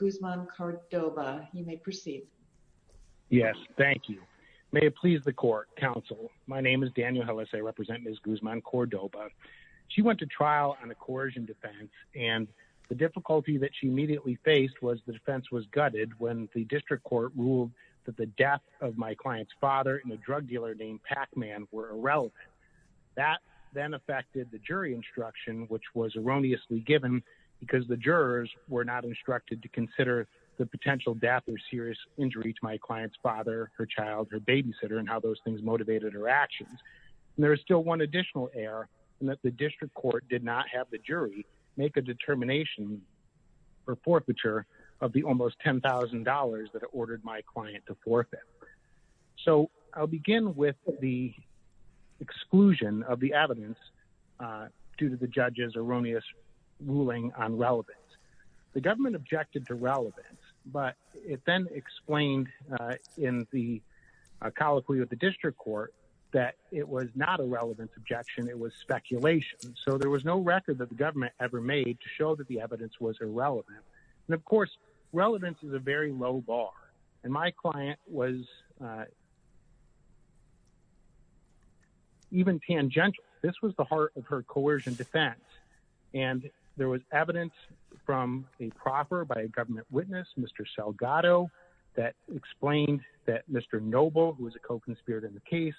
Guzman-Cordoba, you may proceed. Yes, thank you. May it please the court, counsel, my name is Daniel Hellis, I represent Ms. Guzman-Cordoba. She went to trial on a coercion defense and the difficulty that she immediately faced was the defense was gutted when the district court ruled that the death of my client's father and a drug dealer named Pac-Man were irrelevant. That then affected the jury instruction, which was erroneously given because the jurors were not instructed to consider the potential death or serious injury to my client's father, her child, her babysitter and how those things motivated her actions. And there is still one additional error in that the district court did not have the jury make a determination for forfeiture of the almost $10,000 that ordered my client to forfeit. So I'll begin with the exclusion of the evidence due to the judge's erroneous ruling on relevance. The government objected to relevance, but it then explained in the colloquy of the district court that it was not a relevant objection, it was speculation. So there was no record that the government ever made to show that the evidence was irrelevant. And of course, relevance is a very low bar and my client was even tangential. This was the heart of her coercion defense. And there was evidence from a proffer by a government witness, Mr. Salgado, that explained that Mr. Noble, who was a co-conspirator in the case,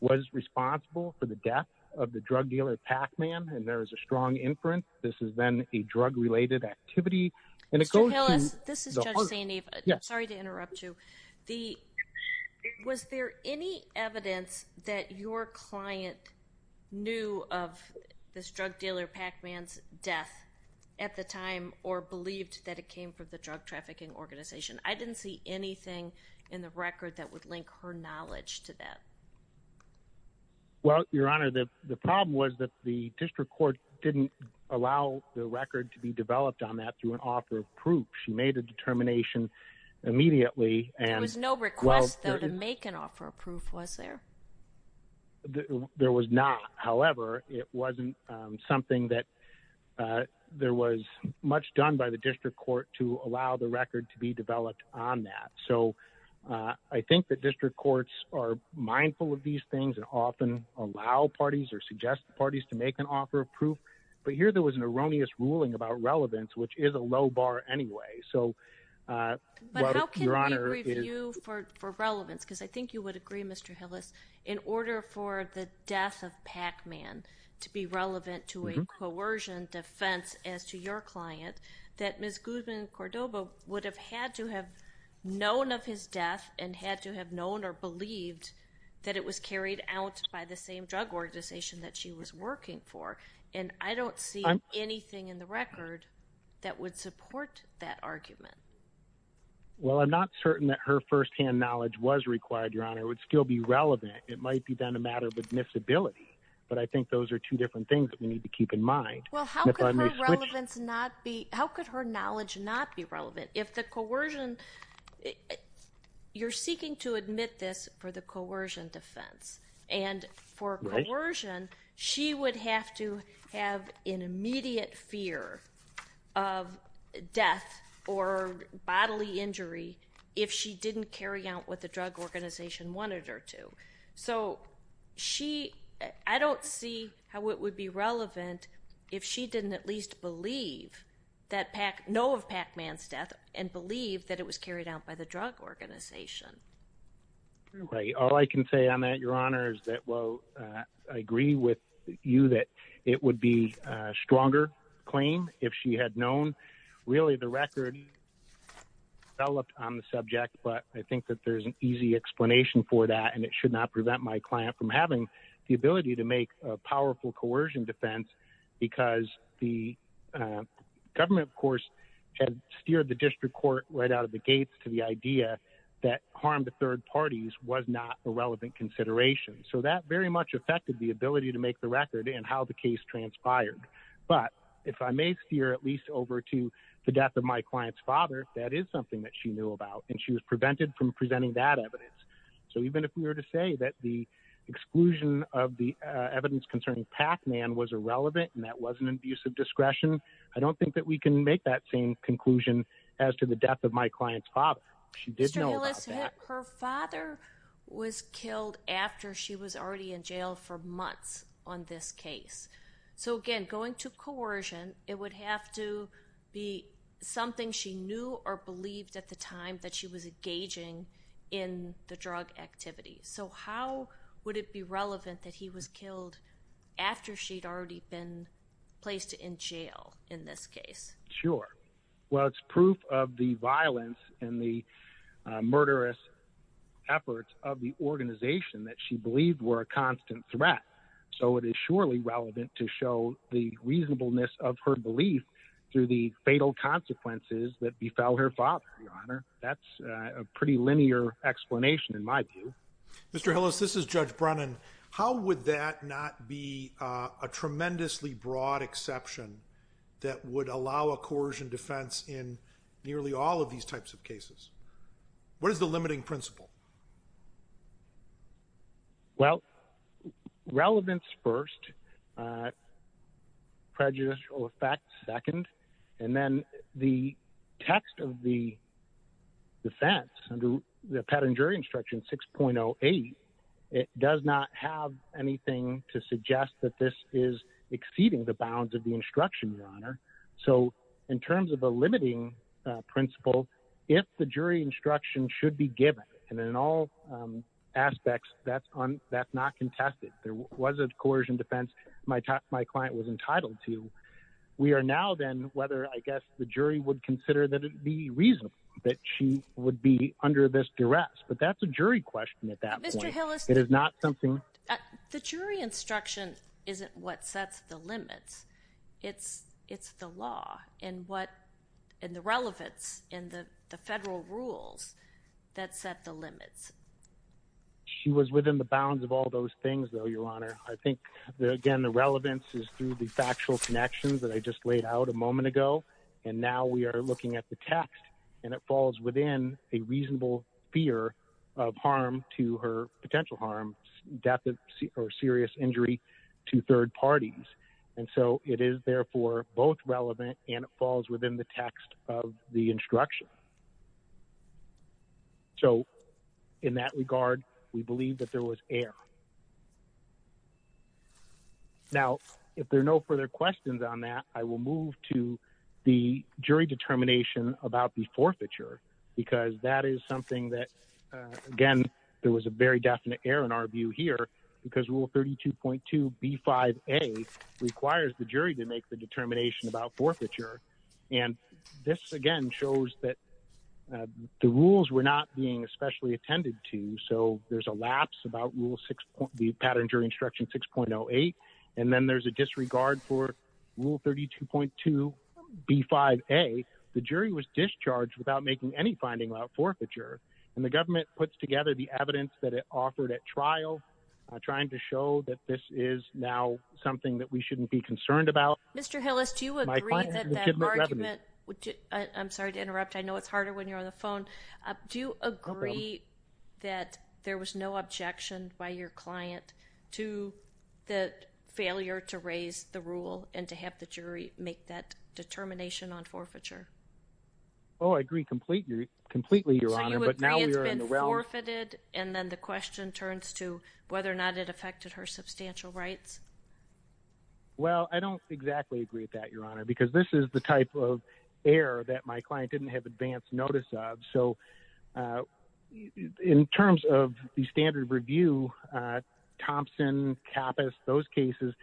was responsible for the death of the drug dealer Pac-Man. And there was a strong inference. This is then a drug-related activity. And it goes to- Mr. Hillis, this is Judge St. Eve. Sorry to interrupt you. The, was there any evidence that your client knew of this drug dealer Pac-Man's death at the time or believed that it came from the drug trafficking organization? I didn't see anything in the record that would link her knowledge to that. Well, Your Honor, the problem was that the district court didn't allow the record to be developed on that through an author of proof. She made a determination immediately There was no request, though, to make an author of proof, was there? There was not. However, it wasn't something that, there was much done by the district court to allow the record to be developed on that. So I think that district courts are mindful of these things and often allow parties or suggest parties to make an author of proof. But here there was an erroneous ruling about relevance, which is a low bar anyway. So, well, Your Honor- But how can we review for relevance? Because I think you would agree, Mr. Hillis, in order for the death of Pac-Man to be relevant to a coercion defense as to your client, that Ms. Guzman-Cordova would have had to have known of his death and had to have known or believed that it was carried out by the same drug organization that she was working for. And I don't see anything in the record that would support that argument. Well, I'm not certain that her firsthand knowledge was required, Your Honor, it would still be relevant. It might be then a matter of admissibility. But I think those are two different things that we need to keep in mind. Well, how could her relevance not be, how could her knowledge not be relevant? If the coercion, you're seeking to admit this for the coercion defense. And for coercion, she would have to have an immediate fear of death or bodily injury if she didn't carry out what the drug organization wanted her to. So she, I don't see how it would be relevant if she didn't at least believe that Pac, know of Pac-Man's death and believe that it was carried out by the drug organization. Right, all I can say on that, Your Honor, is that, well, I agree with you that it would be a stronger claim if she had known. Really the record developed on the subject, but I think that there's an easy explanation for that. And it should not prevent my client from having the ability to make a powerful coercion defense because the government, of course, had steered the district court right out of the gates to the idea that harm to third parties was not a relevant consideration. So that very much affected the ability to make the record and how the case transpired. But if I may steer at least over to the death of my client's father, that is something that she knew about, and she was prevented from presenting that evidence. So even if we were to say that the exclusion of the evidence concerning Pac-Man was irrelevant and that wasn't an abuse of discretion, I don't think that we can make that same conclusion as to the death of my client's father. She did know about that. Her father was killed after she was already in jail for months on this case. So again, going to coercion, it would have to be something she knew or believed at the time that she was engaging in the drug activity. So how would it be relevant that he was killed after she'd already been placed in jail in this case? Sure. Well, it's proof of the violence and the murderous efforts of the organization that she believed were a constant threat. So it is surely relevant to show the reasonableness of her belief through the fatal consequences that befell her father, Your Honor. That's a pretty linear explanation in my view. Mr. Hillis, this is Judge Brennan. How would that not be a tremendously broad exception that would allow a coercion defense in nearly all of these types of cases? What is the limiting principle? Well, relevance first, prejudicial effects second, and then the text of the defense under the Pet and Jury Instruction 6.08, it does not have anything to suggest that this is exceeding the bounds of the instruction, Your Honor. So in terms of a limiting principle, if the jury instruction should be given, and in all aspects, that's not contested. There was a coercion defense my client was entitled to. We are now then whether, I guess, the jury would consider that it be reasonable that she would be under this duress. But that's a jury question at that point. Mr. Hillis- It is not something- The jury instruction isn't what sets the limits. It's the law and the relevance and the federal rules that set the limits. She was within the bounds of all those things, though, Your Honor. I think, again, the relevance is through the factual connections that I just laid out a moment ago. And now we are looking at the text and it falls within a reasonable fear of harm to her potential harm, death or serious injury to third parties. And so it is therefore both relevant and it falls within the text of the instruction. So in that regard, we believe that there was error. Now, if there are no further questions on that, I will move to the jury determination about the forfeiture because that is something that, again, there was a very definite error in our view here because Rule 32.2B5A requires the jury to make the determination about forfeiture. And this, again, shows that the rules were not being especially attended to. So there's a lapse about the pattern jury instruction 6.08. And then there's a disregard for Rule 32.2B5A. The jury was discharged without making any finding about forfeiture. And the government puts together the evidence that it offered at trial, trying to show that this is now something that we shouldn't be concerned about. Mr. Hillis, do you agree that that argument, I'm sorry to interrupt. I know it's harder when you're on the phone. Do you agree that there was no objection by your client to the failure to raise the rule and to have the jury make that determination on forfeiture? Oh, I agree completely, Your Honor, but now we are in the realm- So you agree it's been forfeited and then the question turns to whether or not it affected her substantial rights? Well, I don't exactly agree with that, Your Honor, because this is the type of error that my client didn't have advanced notice of. So in terms of the standard review, Thompson, Kappas, those cases,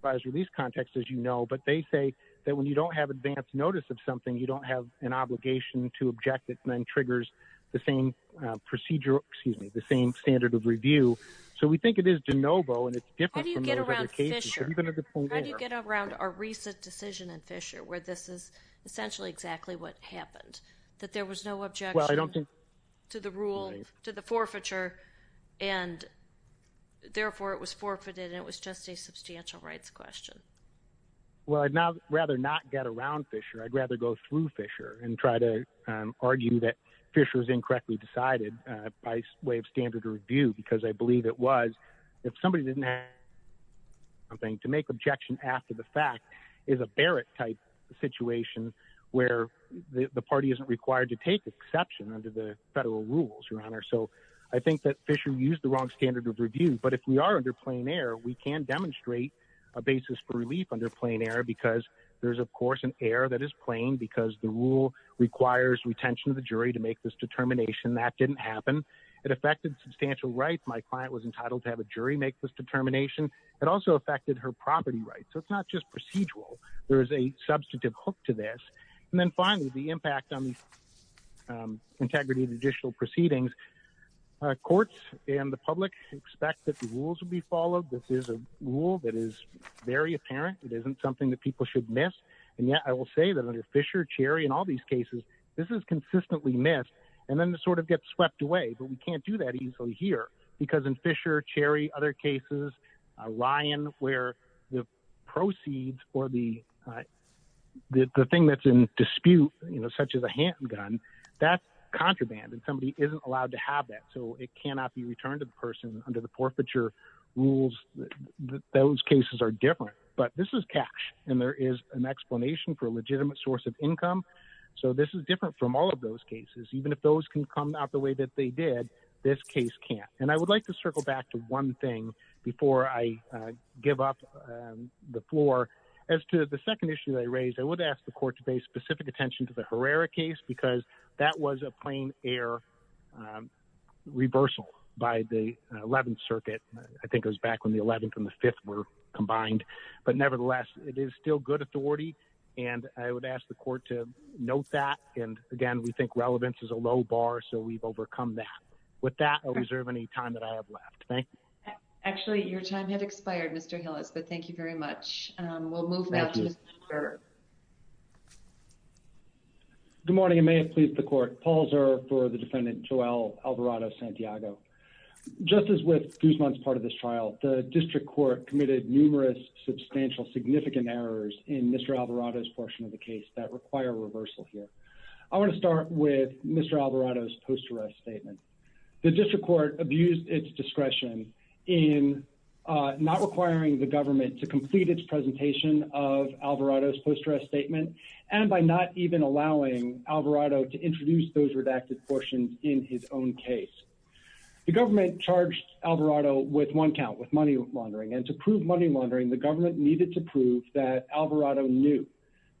by its release context, as you know, but they say that when you don't have advanced notice of something, you don't have an obligation to object it and then triggers the same standard of review. So we think it is de novo, and it's different from those other cases. How do you get around Fisher? Even at the point where- How do you get around a recent decision in Fisher where this is essentially exactly what happened, that there was no objection to the rule, to the forfeiture, and therefore it was forfeited and it was just a substantial rights question? Well, I'd rather not get around Fisher. I'd rather go through Fisher and try to argue that Fisher was incorrectly decided by way of standard review, because I believe it was. If somebody didn't have something, to make objection after the fact is a Barrett-type situation where the party isn't required to take exception under the federal rules, Your Honor. So I think that Fisher used the wrong standard of review, but if we are under plain error, we can demonstrate a basis for relief under plain error, because there's, of course, an error that is plain because the rule requires retention of the jury to make this determination. That didn't happen. It affected substantial rights. My client was entitled to have a jury make this determination. It also affected her property rights. So it's not just procedural. There is a substantive hook to this. And then finally, the impact on the integrity of judicial proceedings. Courts and the public expect that the rules will be followed. This is a rule that is very apparent. It isn't something that people should miss. And yet I will say that under Fisher, Cherry, and all these cases, this is consistently missed. And then it sort of gets swept away, but we can't do that easily here. Because in Fisher, Cherry, other cases, Lyon, where the proceeds or the thing that's in dispute, you know, such as a handgun, that's contraband, and somebody isn't allowed to have that. So it cannot be returned to the person under the forfeiture rules. Those cases are different. But this is cash, and there is an explanation for a legitimate source of income. So this is different from all of those cases. Even if those can come out the way that they did, this case can't. And I would like to circle back to one thing before I give up the floor. As to the second issue that I raised, I would ask the court to pay specific attention to the Herrera case, because that was a plain air reversal by the 11th Circuit. I think it was back when the 11th and the 5th were combined. But nevertheless, it is still good authority. And I would ask the court to note that. And again, we think relevance is a low bar, so we've overcome that. With that, I'll reserve any time that I have left. Thank you. Actually, your time has expired, Mr. Hillis, but thank you very much. We'll move now to Mr. Zerv. Good morning, and may it please the court. Paul Zerv for the defendant Joel Alvarado-Santiago. Just as with Guzman's part of this trial, the district court committed numerous substantial, significant errors in Mr. Alvarado's portion of the case that require reversal here. I want to start with Mr. Alvarado's post-arrest statement. The district court abused its discretion in not requiring the government to complete its presentation of Alvarado's post-arrest statement and by not even allowing Alvarado to introduce those redacted portions in his own case. The government charged Alvarado with one count, with money laundering. And to prove money laundering, the government needed to prove that Alvarado knew,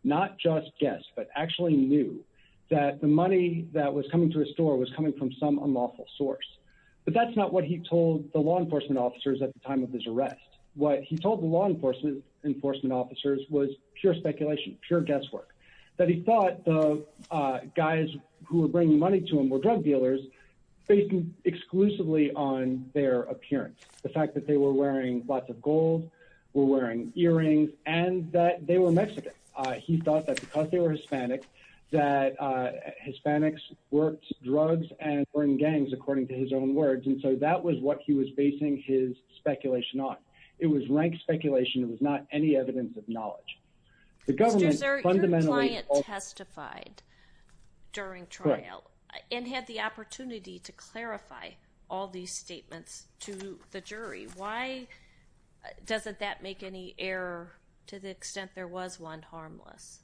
not just guessed, but actually knew that the money that was coming to his store was coming from some unlawful source. But that's not what he told the law enforcement officers at the time of his arrest. What he told the law enforcement officers was pure speculation, pure guesswork. That he thought the guys who were bringing money to him were drug dealers based exclusively on their appearance. The fact that they were wearing lots of gold, were wearing earrings, and that they were Mexican. He thought that because they were Hispanics, that Hispanics worked drugs and were in gangs, according to his own words. And so that was what he was basing his speculation on. It was rank speculation. It was not any evidence of knowledge. The government fundamentally... and had the opportunity to clarify all these statements to the jury. Why doesn't that make any error to the extent there was one harmless?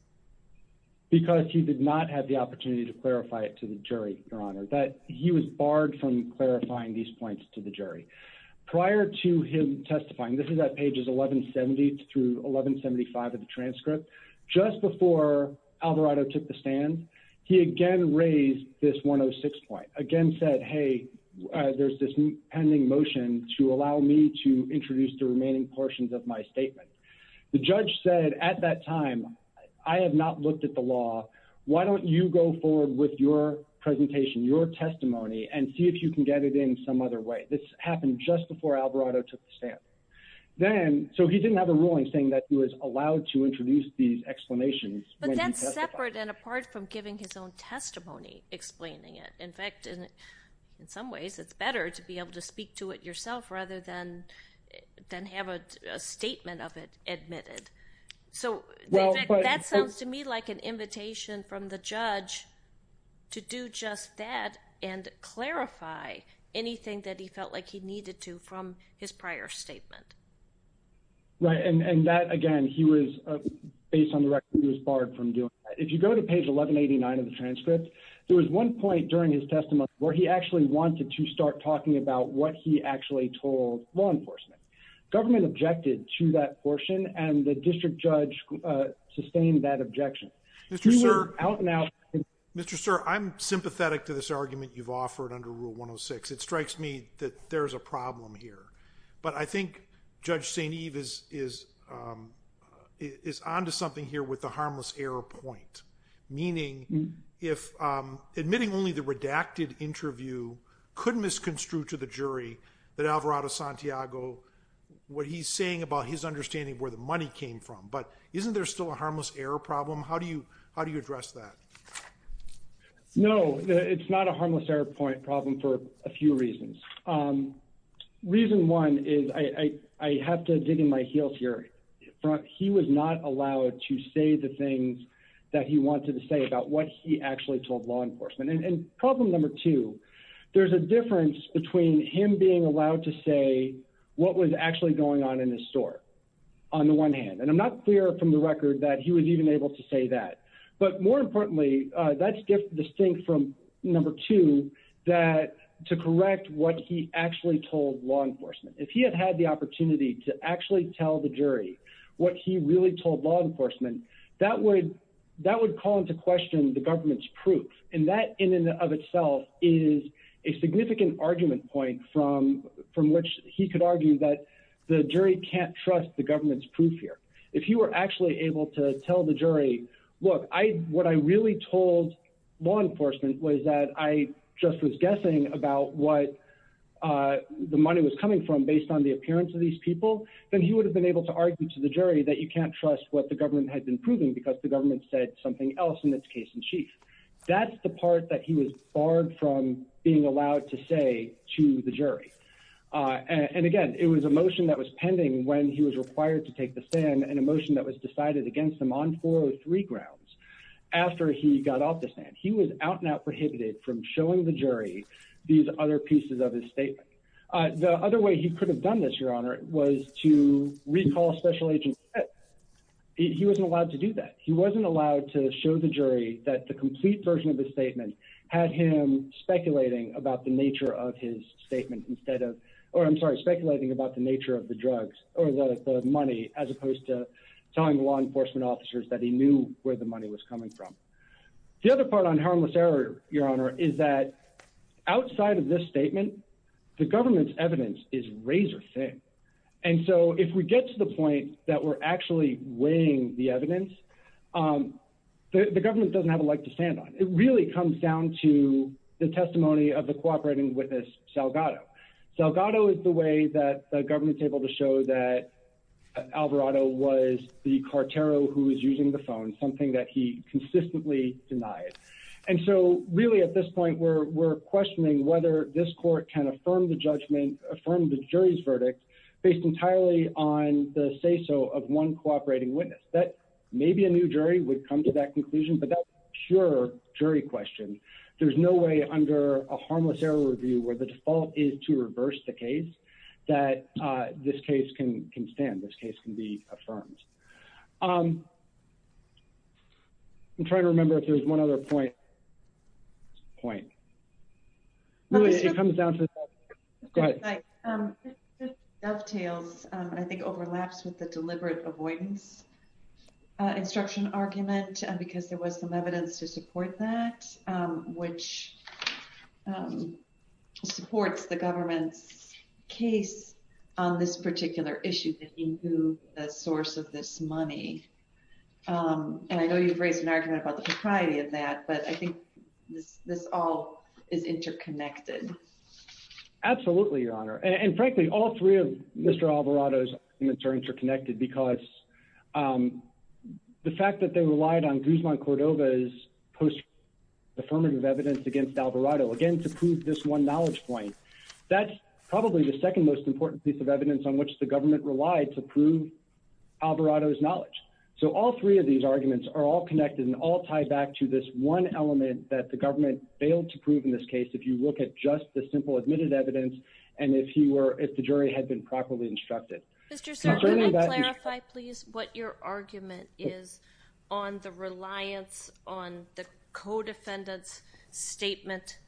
Because he did not have the opportunity to clarify it to the jury, Your Honor. He was barred from clarifying these points to the jury. Prior to him testifying, this is at pages 1170 through 1175 of the transcript, just before Alvarado took the stand, he again raised this 106 point. Again said, hey, there's this pending motion to allow me to introduce the remaining portions of my statement. The judge said at that time, I have not looked at the law. Why don't you go forward with your presentation, your testimony, and see if you can get it in some other way. This happened just before Alvarado took the stand. Then, so he didn't have a ruling saying that he was allowed to introduce these explanations. But that's separate and apart from giving his own testimony, explaining it. In fact, in some ways, it's better to be able to speak to it yourself rather than have a statement of it admitted. So that sounds to me like an invitation from the judge to do just that and clarify anything that he felt like he needed to from his prior statement. Right, and that, again, he was, based on the record, he was barred from doing that. If you go to page 1189 of the transcript, there was one point during his testimony where he actually wanted to start talking about what he actually told law enforcement. Government objected to that portion, and the district judge sustained that objection. He went out and out. Mr. Sir, I'm sympathetic to this argument you've offered under Rule 106. It strikes me that there's a problem here. But I think Judge St. Eve is onto something here with the harmless error point, meaning if admitting only the redacted interview could misconstrue to the jury that Alvarado Santiago, what he's saying about his understanding of where the money came from. But isn't there still a harmless error problem? How do you address that? No, it's not a harmless error point problem for a few reasons. Reason one is, I have to dig in my heels here. He was not allowed to say the things that he wanted to say about what he actually told law enforcement. And problem number two, there's a difference between him being allowed to say what was actually going on in his store on the one hand. And I'm not clear from the record that he was even able to say that. But more importantly, that's distinct from number two, that to correct what he actually told law enforcement. If he had had the opportunity to actually tell the jury what he really told law enforcement, that would call into question the government's proof. And that in and of itself is a significant argument point from which he could argue that the jury can't trust the government's proof here. If you were actually able to tell the jury, look, what I really told law enforcement was that I just was guessing about what the money was coming from based on the appearance of these people, then he would have been able to argue to the jury that you can't trust what the government had been proving because the government said something else in its case in chief. That's the part that he was barred from being allowed to say to the jury. And again, it was a motion that was pending when he was required to take the stand and a motion that was decided against him on four or three grounds. After he got off the stand, he was out and out prohibited from showing the jury these other pieces of his statement. The other way he could have done this, Your Honor, was to recall special agents. He wasn't allowed to do that. He wasn't allowed to show the jury that the complete version of his statement had him speculating about the nature of his statement instead of, or I'm sorry, speculating about the nature of the drugs or the money as opposed to telling law enforcement officers that he knew where the money was coming from. The other part on harmless error, Your Honor, is that outside of this statement, the government's evidence is razor thin. And so if we get to the point that we're actually weighing the evidence, the government doesn't have a leg to stand on. It really comes down to the testimony of the cooperating witness, Salgado. Salgado is the way that the government's able to show that Alvarado was the cartero who was using the phone, something that he consistently denied. And so really at this point, we're questioning whether this court can affirm the judgment, affirm the jury's verdict based entirely on the say-so of one cooperating witness. Maybe a new jury would come to that conclusion, but that's a pure jury question. There's no way under a harmless error review where the default is to reverse the case that this case can stand, this case can be affirmed. I'm trying to remember if there's one other point. Point. Really, it comes down to that. Go ahead. Dovetails, I think overlaps with the deliberate avoidance instruction argument because there was some evidence to support that, which supports the government's case on this particular issue to improve a source of this money. And I know you've raised an argument about the propriety of that, but I think this all is interconnected. Absolutely, Your Honor. And frankly, all three of Mr. Alvarado's in the terms are connected because the fact that they relied on Guzman Cordova's post affirmative evidence against Alvarado, again, to prove this one knowledge point, that's probably the second most important piece of evidence on which the government relied to prove Alvarado's knowledge. So all three of these arguments are all connected and all tied back to this one element that the government failed to prove in this case if you look at just the simple admitted evidence and if the jury had been properly instructed. Mr. Sir, can I clarify please what your argument is on the reliance on the co-defendant's statement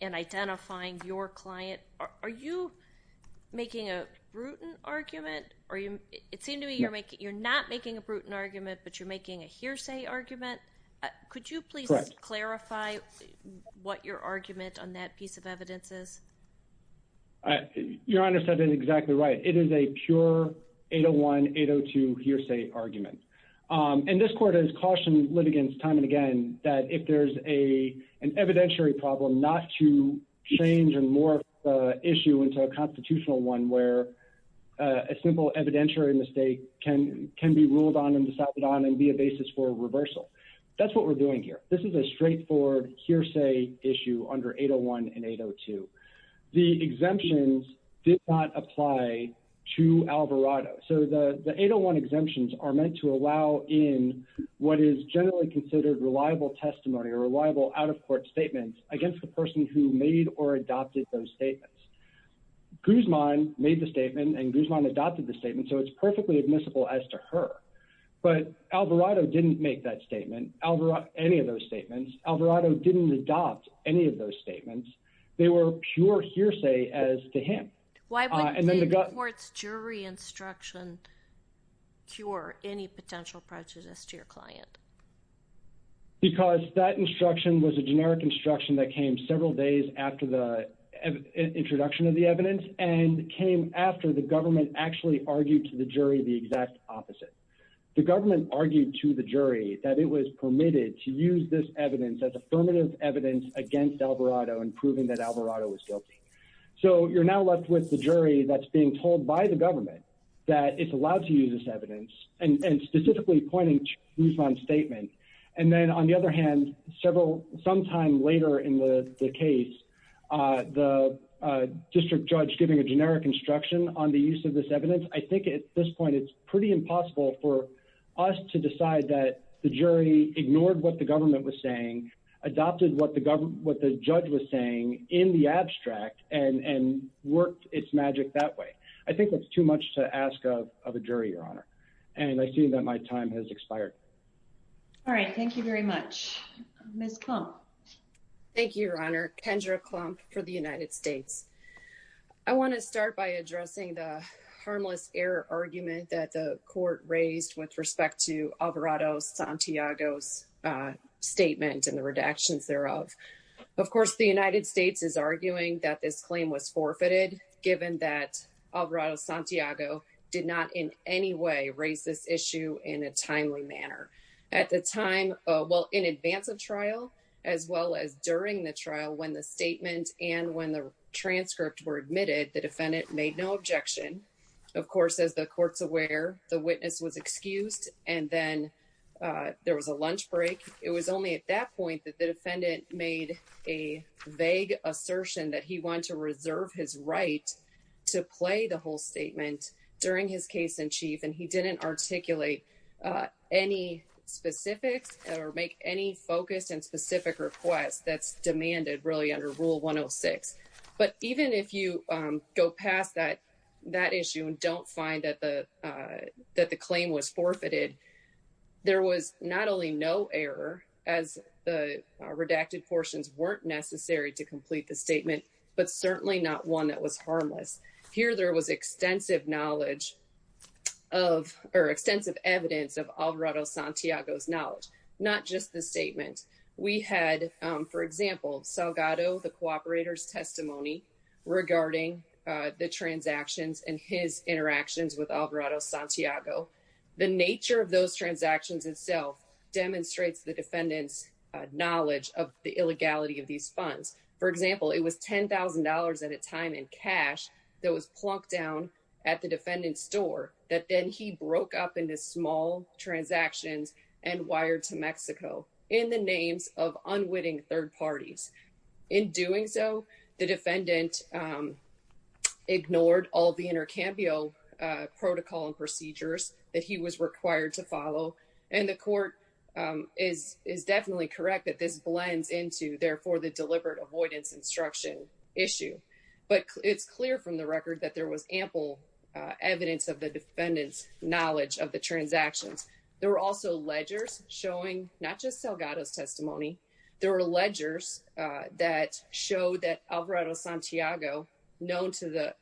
in identifying your client? Are you making a brutal argument? It seemed to me you're not making a brutal argument, but you're making a hearsay argument. Could you please clarify what your argument on that piece of evidence is? Your Honor said it exactly right. It is a pure 801, 802 hearsay argument. And this court has cautioned litigants time and again that if there's an evidentiary problem, not to change or morph the issue into a constitutional one where a simple evidentiary mistake can be ruled on and decided on and be a basis for reversal. That's what we're doing here. This is a straightforward hearsay issue under 801 and 802. The exemptions did not apply to Alvarado. So the 801 exemptions are meant to allow in what is generally considered reliable testimony or reliable out-of-court statements against the person who made or adopted those statements. Guzman made the statement and Guzman adopted the statement, so it's perfectly admissible as to her. But Alvarado didn't make that statement, any of those statements. Alvarado didn't adopt any of those statements. They were pure hearsay as to him. Why wouldn't the court's jury instruction cure any potential prejudice to your client? Because that instruction was a generic instruction that came several days after the introduction of the evidence and came after the government actually argued to the jury the exact opposite. The government argued to the jury that it was permitted to use this evidence as affirmative evidence against Alvarado in proving that Alvarado was guilty. So you're now left with the jury that's being told by the government that it's allowed to use this evidence and specifically pointing to Guzman's statement. And then on the other hand, sometime later in the case, the district judge giving a generic instruction on the use of this evidence, I think at this point it's pretty impossible for us to decide that the jury ignored what the government was saying, adopted what the judge was saying in the abstract I think that's too much to ask of a jury, Your Honor. And I see that my time has expired. All right, thank you very much. Ms. Klump. Thank you, Your Honor. Kendra Klump for the United States. I wanna start by addressing the harmless error argument that the court raised with respect to Alvarado Santiago's statement and the redactions thereof. Of course, the United States is arguing that this claim was forfeited given that Alvarado Santiago did not in any way raise this issue in a timely manner. At the time, well, in advance of trial, as well as during the trial when the statement and when the transcript were admitted, the defendant made no objection. Of course, as the court's aware, the witness was excused and then there was a lunch break. It was only at that point that the defendant made a vague assertion that he wanted to reserve his right to play the whole statement during his case in chief. And he didn't articulate any specifics or make any focused and specific requests that's demanded really under Rule 106. But even if you go past that issue and don't find that the claim was forfeited, there was not only no error as the redacted portions weren't necessary to complete the statement, but certainly not one that was harmless. Here, there was extensive knowledge of, or extensive evidence of Alvarado Santiago's knowledge, not just the statement. We had, for example, Salgado, the cooperator's testimony regarding the transactions and his interactions with Alvarado Santiago. The nature of those transactions itself demonstrates the defendant's knowledge of the illegality of these funds. For example, it was $10,000 at a time in cash that was plunked down at the defendant's store that then he broke up into small transactions and wired to Mexico in the names of unwitting third parties. In doing so, the defendant ignored all the intercambio protocol and procedures that he was required to follow. And the court is definitely correct that this blends into, therefore, the deliberate avoidance instruction issue. But it's clear from the record that there was ample evidence of the defendant's knowledge of the transactions. There were also ledgers showing, not just Salgado's testimony, there were ledgers that showed that Alvarado Santiago, known to the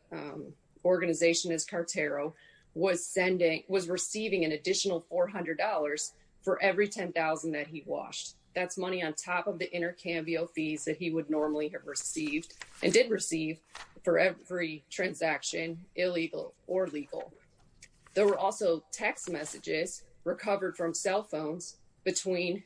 organization as Cartero, was receiving an additional $400 for every 10,000 that he washed. That's money on top of the intercambio fees that he would normally have received and did receive for every transaction, illegal or legal. There were also text messages recovered from cell phones between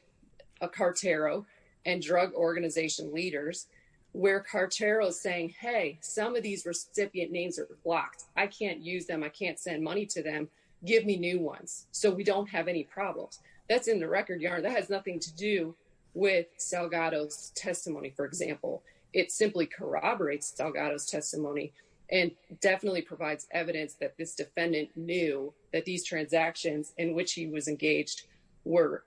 a Cartero and drug organization leaders where Cartero is saying, hey, some of these recipient names are blocked. I can't use them, I can't send money to them, give me new ones, so we don't have any problems. That's in the record, that has nothing to do with Salgado's testimony, for example. It simply corroborates Salgado's testimony and definitely provides evidence that this defendant knew that these transactions in which he was engaged were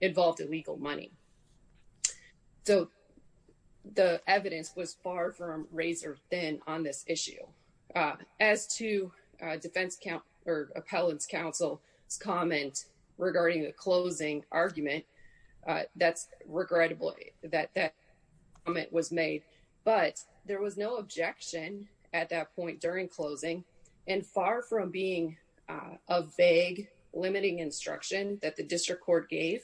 involved in legal money. So the evidence was far from razor thin on this issue. As to defense counsel or appellant's counsel's comment regarding the closing argument, that's regrettably that that comment was made, but there was no objection at that point during closing and far from being a vague limiting instruction that the district court gave.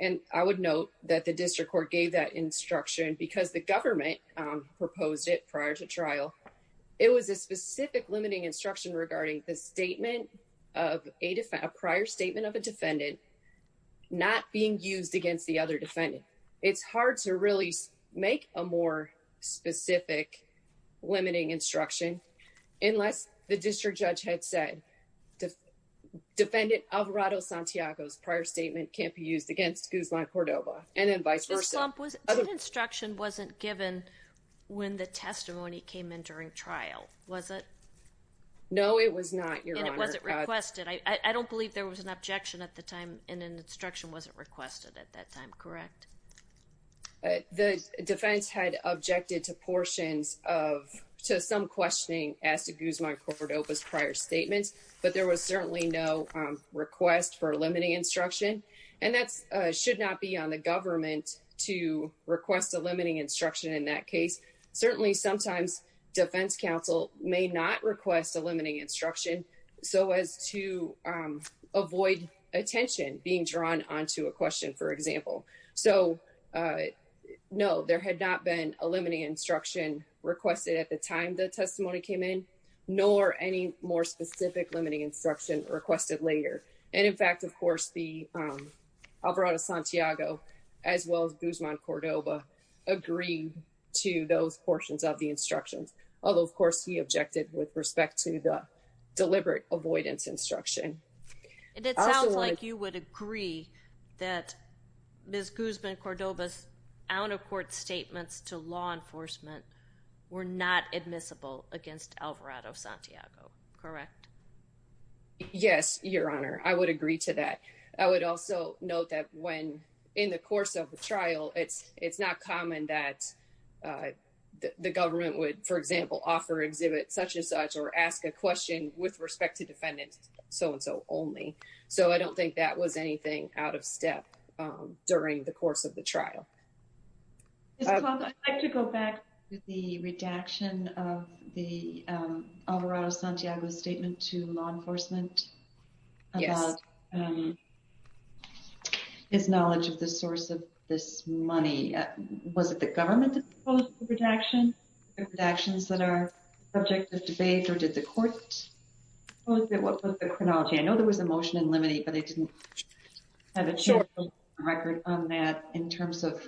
And I would note that the district court gave that instruction because the government proposed it prior to trial. It was a specific limiting instruction regarding the statement of a prior statement of a defendant not being used against the other defendant. It's hard to really make a more specific limiting instruction unless the district judge had said, defendant Alvarado Santiago's prior statement can't be used against Guzman Cordova, and then vice versa. The slump was, that instruction wasn't given when the testimony came in during trial, was it? No, it was not, Your Honor. And it wasn't requested. I don't believe there was an objection at the time and an instruction wasn't requested at that time, correct? The defense had objected to portions of, to some questioning as to Guzman Cordova's prior statements, but there was certainly no request for a limiting instruction. And that should not be on the government to request a limiting instruction in that case. Certainly sometimes defense counsel may not request a limiting instruction so as to avoid attention being drawn onto a question, for example. So no, there had not been a limiting instruction requested at the time the testimony came in, nor any more specific limiting instruction requested later. And in fact, of course, the Alvarado Santiago, as well as Guzman Cordova, agreed to those portions of the instructions. Although, of course, he objected with respect to the deliberate avoidance instruction. And it sounds like you would agree that Ms. Guzman Cordova's out-of-court statements to law enforcement were not admissible against Alvarado Santiago, correct? Yes, Your Honor, I would agree to that. I would also note that when in the course of the trial, it's not common that the government would, for example, offer exhibits such as such, or ask a question with respect to defendants, so-and-so only. during the course of the trial. Ms. Conklin, I'd like to go back to the redaction of the Alvarado Santiago's statement to law enforcement. Yes. His knowledge of the source of this money. Was it the government that proposed the redaction? The redactions that are subject to debate, or did the court propose it? What was the chronology? I know there was a motion in limine, but I didn't have a record on that in terms of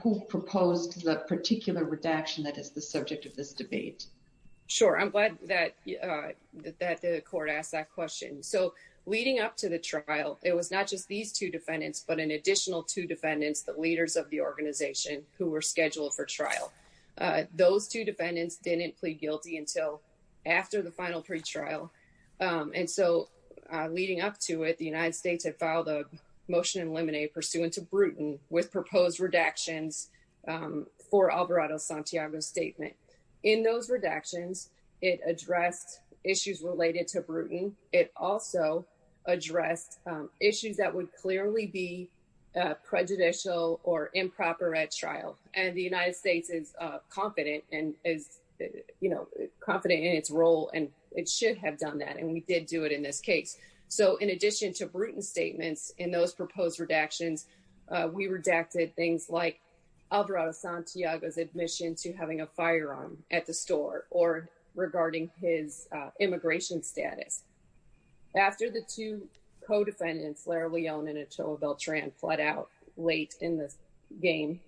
who proposed the particular redaction that is the subject of this debate. Sure, I'm glad that the court asked that question. So, leading up to the trial, it was not just these two defendants, but an additional two defendants, the leaders of the organization, who were scheduled for trial. Those two defendants didn't plead guilty until after the final pretrial. And so, leading up to it, the United States had filed a motion in limine pursuant to Bruton with proposed redactions for Alvarado Santiago's statement. In those redactions, it addressed issues related to Bruton. It also addressed issues that would clearly be prejudicial or improper at trial. And the United States is confident in its role, and it should have done that. And we did do it in this case. So, in addition to Bruton's statements in those proposed redactions, we redacted things like Alvarado Santiago's admission to having a firearm at the store or regarding his immigration status. After the two co-defendants, Lara Leone and Atoa Beltran fled out late in the game,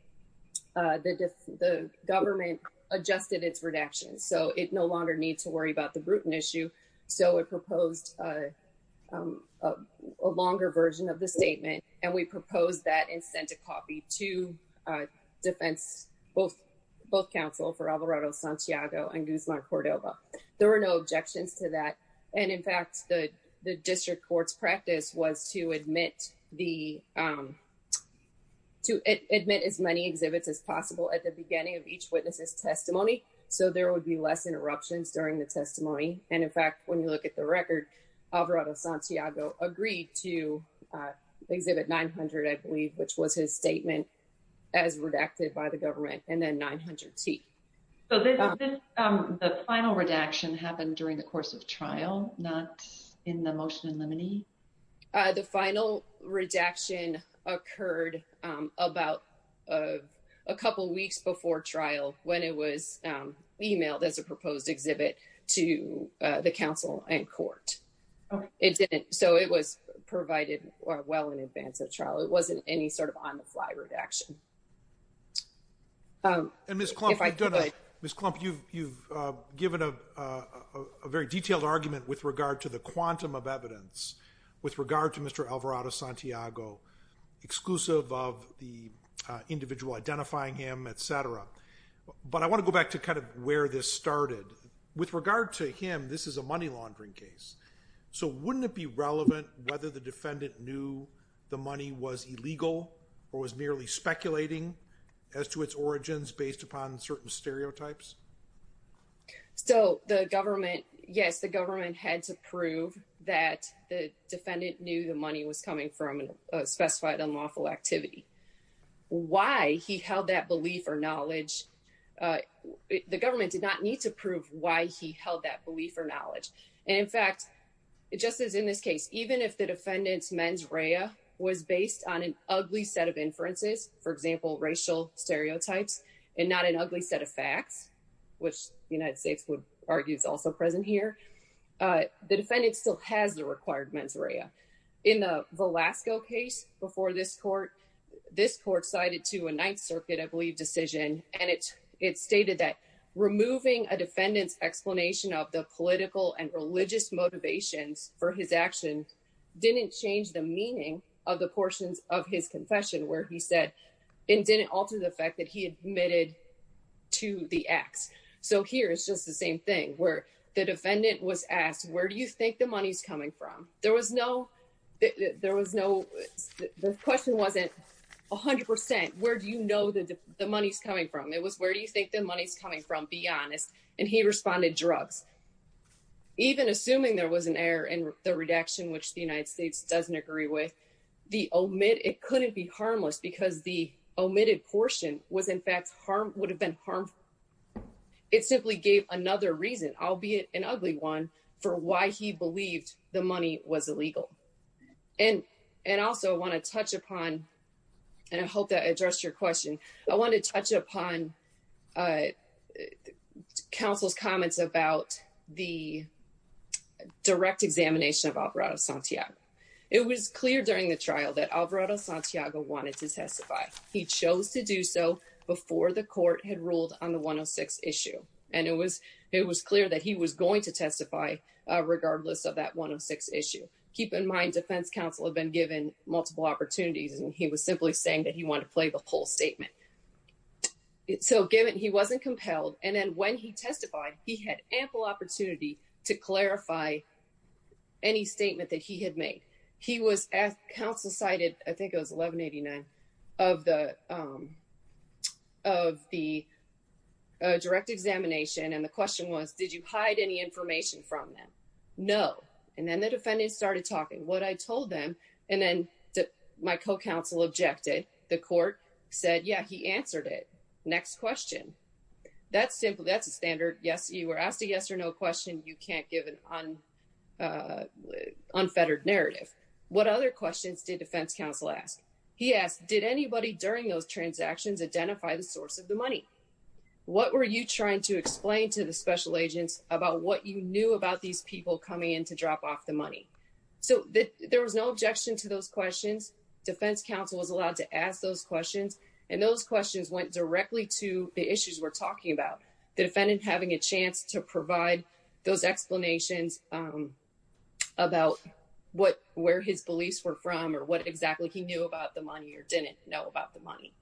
the government adjusted its redactions. So, it no longer needs to worry about the Bruton issue. So, it proposed a longer version of the statement, and we proposed that and sent a copy to defense, both counsel for Alvarado Santiago and Guzman Cordova. There were no objections to that. And in fact, the district court's practice was to admit as many exhibits as possible at the beginning of each witness's testimony. So, there would be less interruptions during the testimony. And in fact, when you look at the record, Alvarado Santiago agreed to exhibit 900, I believe, which was his statement as redacted by the government and then 900T. So, the final redaction happened during the course of trial, not in the motion in limine? The final redaction occurred about a couple of weeks before trial when it was emailed as a proposed exhibit to the counsel and court. It didn't, so it was provided well in advance of trial. It wasn't any sort of on the fly redaction. If I could. Ms. Klump, you've given a very detailed argument with regard to the quantum of evidence, with regard to Mr. Alvarado Santiago, exclusive of the individual identifying him, et cetera. But I wanna go back to kind of where this started. With regard to him, this is a money laundering case. So, wouldn't it be relevant whether the defendant knew the money was illegal or was merely speculating as to its origins based upon certain stereotypes? So, the government, yes, the government had to prove that the defendant knew the money was coming from a specified unlawful activity. Why he held that belief or knowledge, the government did not need to prove why he held that belief or knowledge. And in fact, it just says in this case, even if the defendant's mens rea was based on an ugly set of inferences, for example, racial stereotypes, and not an ugly set of facts, which the United States would argue is also present here, the defendant still has the required mens rea. In the Velasco case before this court, this court cited to a Ninth Circuit, I believe, decision, and it stated that removing a defendant's explanation of the political and religious motivations for his action didn't change the meaning of the portions of his confession, where he said it didn't alter the fact that he admitted to the acts. So, here it's just the same thing, where the defendant was asked, where do you think the money's coming from? There was no, the question wasn't 100%, where do you know that the money's coming from? It was, where do you think the money's coming from, be honest, and he responded, drugs. Even assuming there was an error in the redaction, which the United States doesn't agree with, the omit, it couldn't be harmless because the omitted portion was in fact harm, would have been harmful. It simply gave another reason, albeit an ugly one, for why he believed the money was illegal. And also wanna touch upon, and I hope that addressed your question, I wanna touch upon counsel's comments about the direct examination of Alvarado Santiago. It was clear during the trial that Alvarado Santiago wanted to testify. He chose to do so before the court had ruled on the 106 issue. And it was clear that he was going to testify regardless of that 106 issue. Keep in mind, defense counsel have been given multiple opportunities and he was simply saying that he wanted to play the whole statement. So given he wasn't compelled, and then when he testified, he had ample opportunity to clarify any statement that he had made. He was asked, counsel cited, I think it was 1189, of the direct examination, and the question was, did you hide any information from them? No, and then the defendants started talking. What I told them, and then my co-counsel objected. The court said, yeah, he answered it. Next question. That's simple, that's a standard. Yes, you were asked a yes or no question. You can't give an unfettered narrative. What other questions did defense counsel ask? He asked, did anybody during those transactions identify the source of the money? What were you trying to explain to the special agents about what you knew about these people coming in to drop off the money? So there was no objection to those questions. Defense counsel was allowed to ask those questions, and those questions went directly to the issues we're talking about. The defendant having a chance to provide those explanations about where his beliefs were from, or what exactly he knew about the money, or didn't know about the money.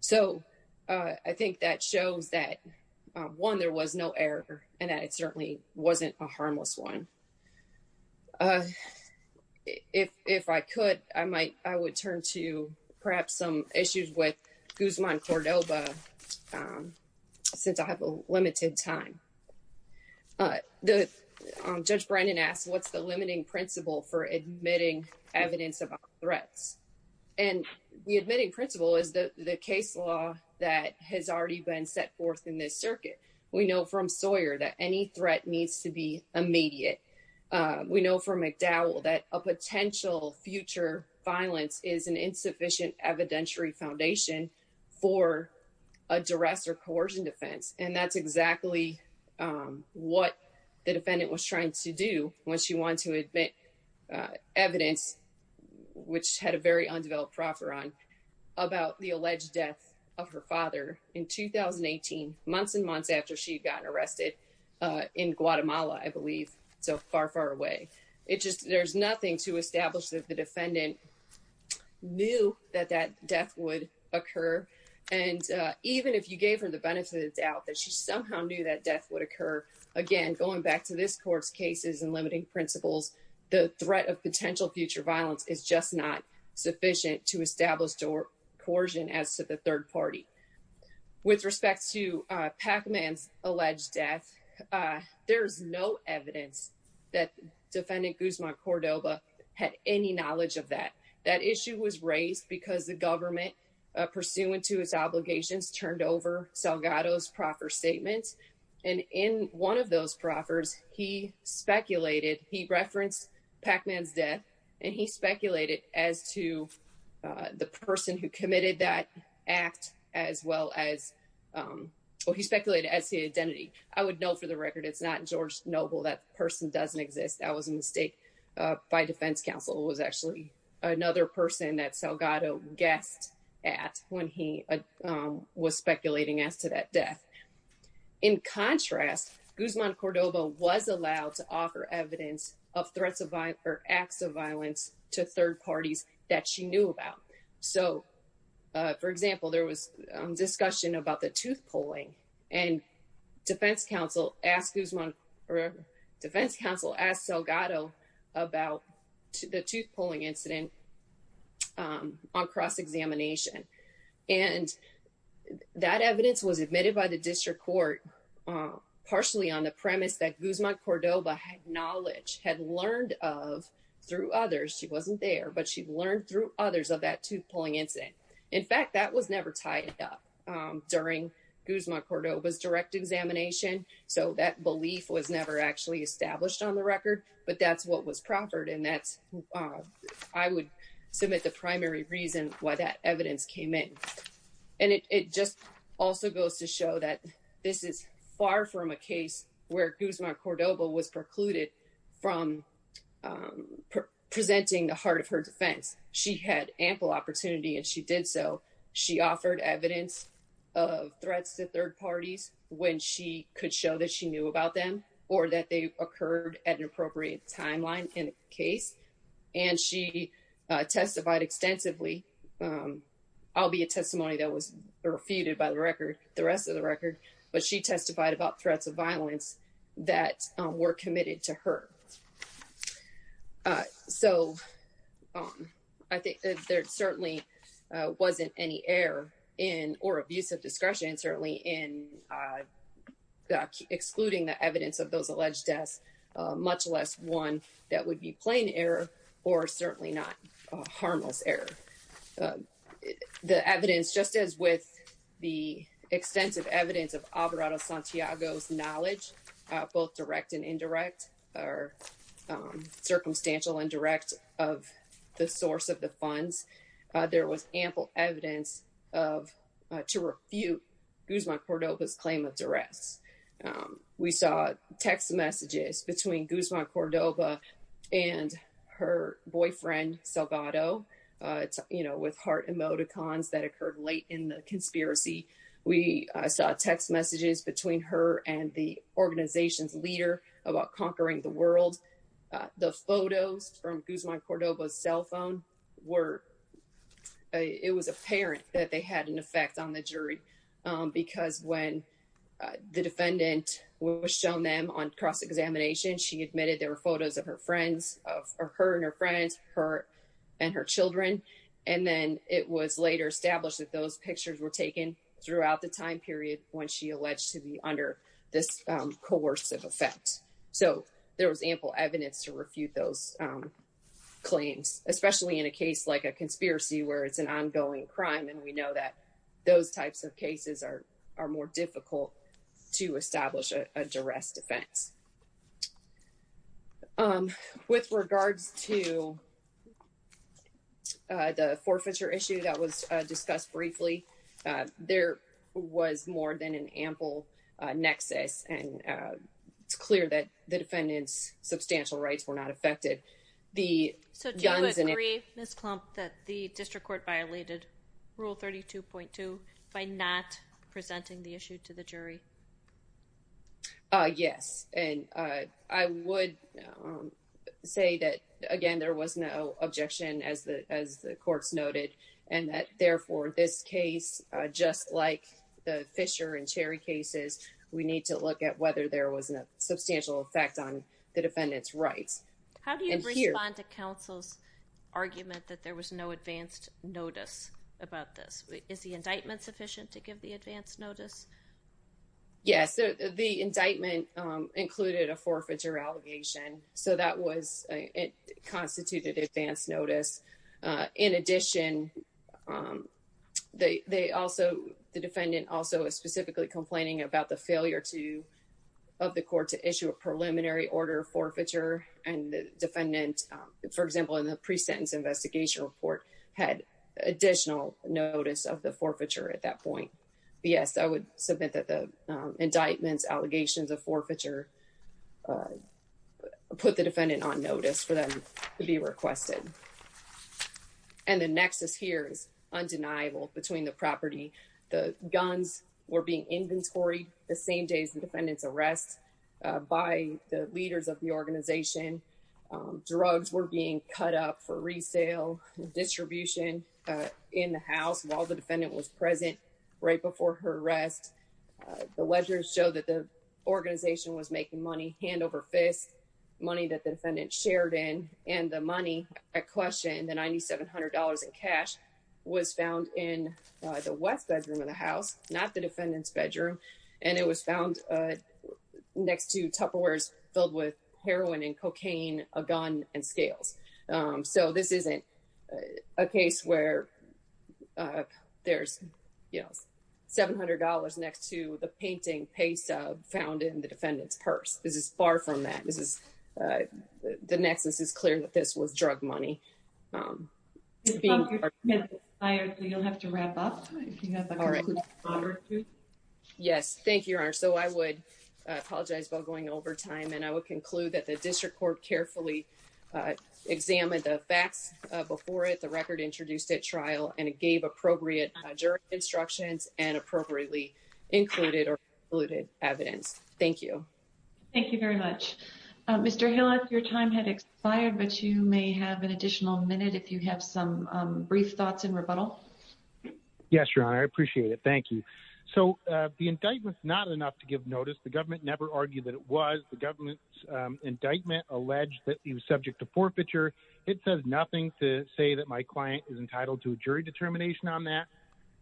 So I think that shows that, one, there was no error, and that it certainly wasn't a harmless one. If I could, I would turn to perhaps some issues with Guzman-Cordova, since I have a limited time. Judge Brandon asked, what's the limiting principle for admitting evidence about threats? And the admitting principle is the case law that has already been set forth in this circuit. We know from Sawyer that any threat needs to be immediate. We know from McDowell that a potential future violence is an insufficient evidentiary foundation for a duress or coercion defense. And that's exactly what the defendant was trying to do when she wanted to admit evidence, which had a very undeveloped proffer on, about the alleged death of her father in 2018, months and months after she'd gotten arrested in Guatemala, I believe. So far, far away. It just, there's nothing to establish that the defendant knew that that death would occur. And even if you gave her the benefit of the doubt that she somehow knew that death would occur, again, going back to this court's cases and limiting principles, the threat of potential future violence is just not sufficient to establish coercion as to the third party. With respect to Pacman's alleged death, there's no evidence that defendant Guzman Cordova had any knowledge of that. That issue was raised because the government, pursuant to its obligations, turned over Salgado's proffer statements. And in one of those proffers, he speculated, he referenced Pacman's death, and he speculated as to the person who committed that act as well as, well, he speculated as the identity. I would note for the record, it's not George Noble. That person doesn't exist. That was a mistake by defense counsel. It was actually another person that Salgado guessed at when he was speculating as to that death. In contrast, Guzman Cordova was allowed to offer evidence of threats of violence or acts of violence to third parties that she knew about. So for example, there was discussion about the tooth pulling and defense counsel asked Salgado about the tooth pulling incident on cross-examination. And that evidence was admitted by the district court, partially on the premise that Guzman Cordova had knowledge, had learned of through others. She wasn't there, but she learned through others of that tooth pulling incident. In fact, that was never tied up during Guzman Cordova's direct examination. So that belief was never actually established on the record, but that's what was proffered. And that's, I would submit the primary reason why that evidence came in. And it just also goes to show that this is far from a case where Guzman Cordova was precluded from presenting the heart of her defense. She had ample opportunity and she did so. She offered evidence of threats to third parties when she could show that she knew about them or that they occurred at an appropriate timeline in case. And she testified extensively. I'll be a testimony that was refuted by the record, the rest of the record, but she testified about threats of violence that were committed to her. So I think that there certainly wasn't any error in or abuse of discretion, certainly in excluding the evidence of those alleged deaths, much less one that would be plain error or certainly not a harmless error. The evidence, just as with the extensive evidence of Alvarado Santiago's knowledge, both direct and indirect or circumstantial and direct of the source of the funds, there was ample evidence to refute Guzman Cordova's claim of duress. We saw text messages between Guzman Cordova and her boyfriend, Salvato, with heart emoticons that occurred late in the conspiracy. We saw text messages between her and the organization's leader about conquering the world. The photos from Guzman Cordova's cell phone were, it was apparent that they had an effect on the jury because when the defendant was shown them on cross-examination, she admitted there were photos of her and her friends, her and her children. And then it was later established that those pictures were taken throughout the time period when she alleged to be under this coercive effect. So there was ample evidence to refute those claims, especially in a case like a conspiracy where it's an ongoing crime. And we know that those types of cases are more difficult to establish a duress defense. With regards to the forfeiture issue that was discussed briefly, there was more than an ample nexus and it's clear that the defendant's substantial rights were not affected. The guns and- So do you agree, Ms. Klump, that the district court violated rule 32.2 by not presenting the issue to the jury? Yes, and I would say that, again, there was no objection as the courts noted. And that, therefore, this case, just like the Fisher and Cherry cases, we need to look at whether there was a substantial effect on the defendant's rights. How do you respond to counsel's argument that there was no advanced notice about this? Is the indictment sufficient to give the advanced notice? Yes, the indictment included a forfeiture allegation. So that was, it constituted advanced notice. In addition, the defendant also was specifically complaining about the failure of the court to issue a preliminary order of forfeiture and the defendant, for example, in the pre-sentence investigation report had additional notice of the forfeiture at that point. Yes, I would submit that the indictments, allegations of forfeiture put the defendant on notice for them to be requested. And the nexus here is undeniable between the property. The guns were being inventoried the same day as the defendant's arrest by the leaders of the organization. Drugs were being cut up for resale and distribution in the house while the defendant was present right before her arrest. The ledgers show that the organization was making money hand over fist, money that the defendant shared in, and the money at question, the $9,700 in cash was found in the West bedroom of the house, not the defendant's bedroom. And it was found next to Tupperwares filled with heroin and cocaine, a gun, and scales. So this isn't a case where there's $700 next to the painting pay sub found in the defendant's purse. This is far from that. This is, the nexus is clear that this was drug money. Being- I don't think you'll have to wrap up. If you have a conclusion to forward to. Yes, thank you, Your Honor. So I would apologize about going over time and I would conclude that the district court carefully examined the facts before it, the record introduced at trial, and it gave appropriate jury instructions and appropriately included or diluted evidence. Thank you. Thank you very much. Mr. Hilleth, your time had expired, but you may have an additional minute if you have some brief thoughts in rebuttal. Yes, Your Honor, I appreciate it. Thank you. So the indictment's not enough to give notice. The government never argued that it was. The government's indictment alleged that he was subject to forfeiture. It says nothing to say that my client is entitled to a jury determination on that.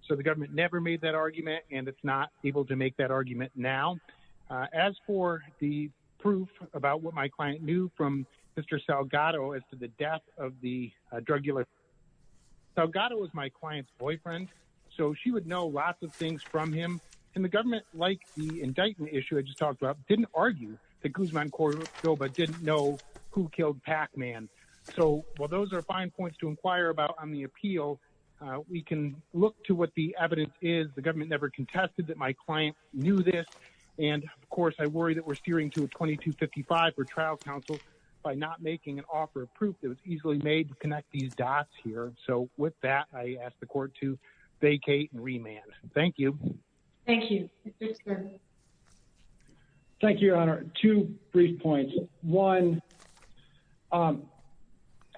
So the government never made that argument and it's not able to make that argument now. As for the proof about what my client knew from Mr. Salgado as to the death of the drug dealer, Salgado was my client's boyfriend, so she would know lots of things from him. And the government, like the indictment issue I just talked about, didn't argue that Guzman Corso but didn't know who killed Pac-Man. So while those are fine points to inquire about on the appeal, we can look to what the evidence is. The government never contested that my client knew this. And of course, I worry that we're steering to a 2255 for trial counsel by not making an offer of proof that was easily made to connect these dots here. So with that, I ask the court to vacate and remand. Thank you. Thank you. Thank you, Your Honor. Two brief points. One,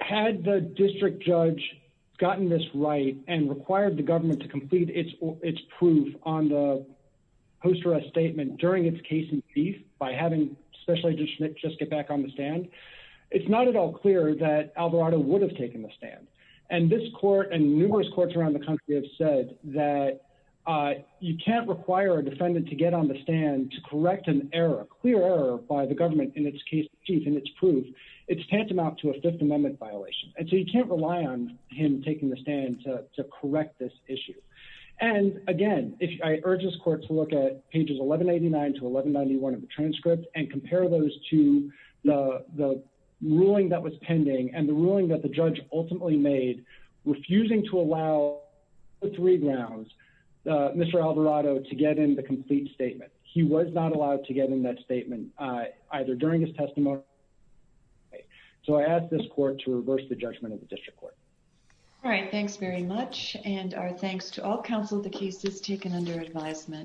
had the district judge gotten this right and required the government to complete its proof on the post-arrest statement during its case in chief by having Special Agent Schmidt just get back on the stand, it's not at all clear that Alvarado would have taken the stand. And this court and numerous courts around the country have said that you can't require a defendant to get on the stand to correct an error, a clear error by the government in its case in chief and its proof. It's tantamount to a Fifth Amendment violation. And so you can't rely on him taking the stand to correct this issue. And again, I urge this court to look at pages 1189 to 1191 of the transcript and compare those to the ruling that was pending and the ruling that the judge ultimately made refusing to allow the three grounds, Mr. Alvarado to get in the complete statement. He was not allowed to get in that statement either during his testimony. So I ask this court to reverse the judgment of the district court. All right, thanks very much. And our thanks to all counsel, the case is taken under advisement.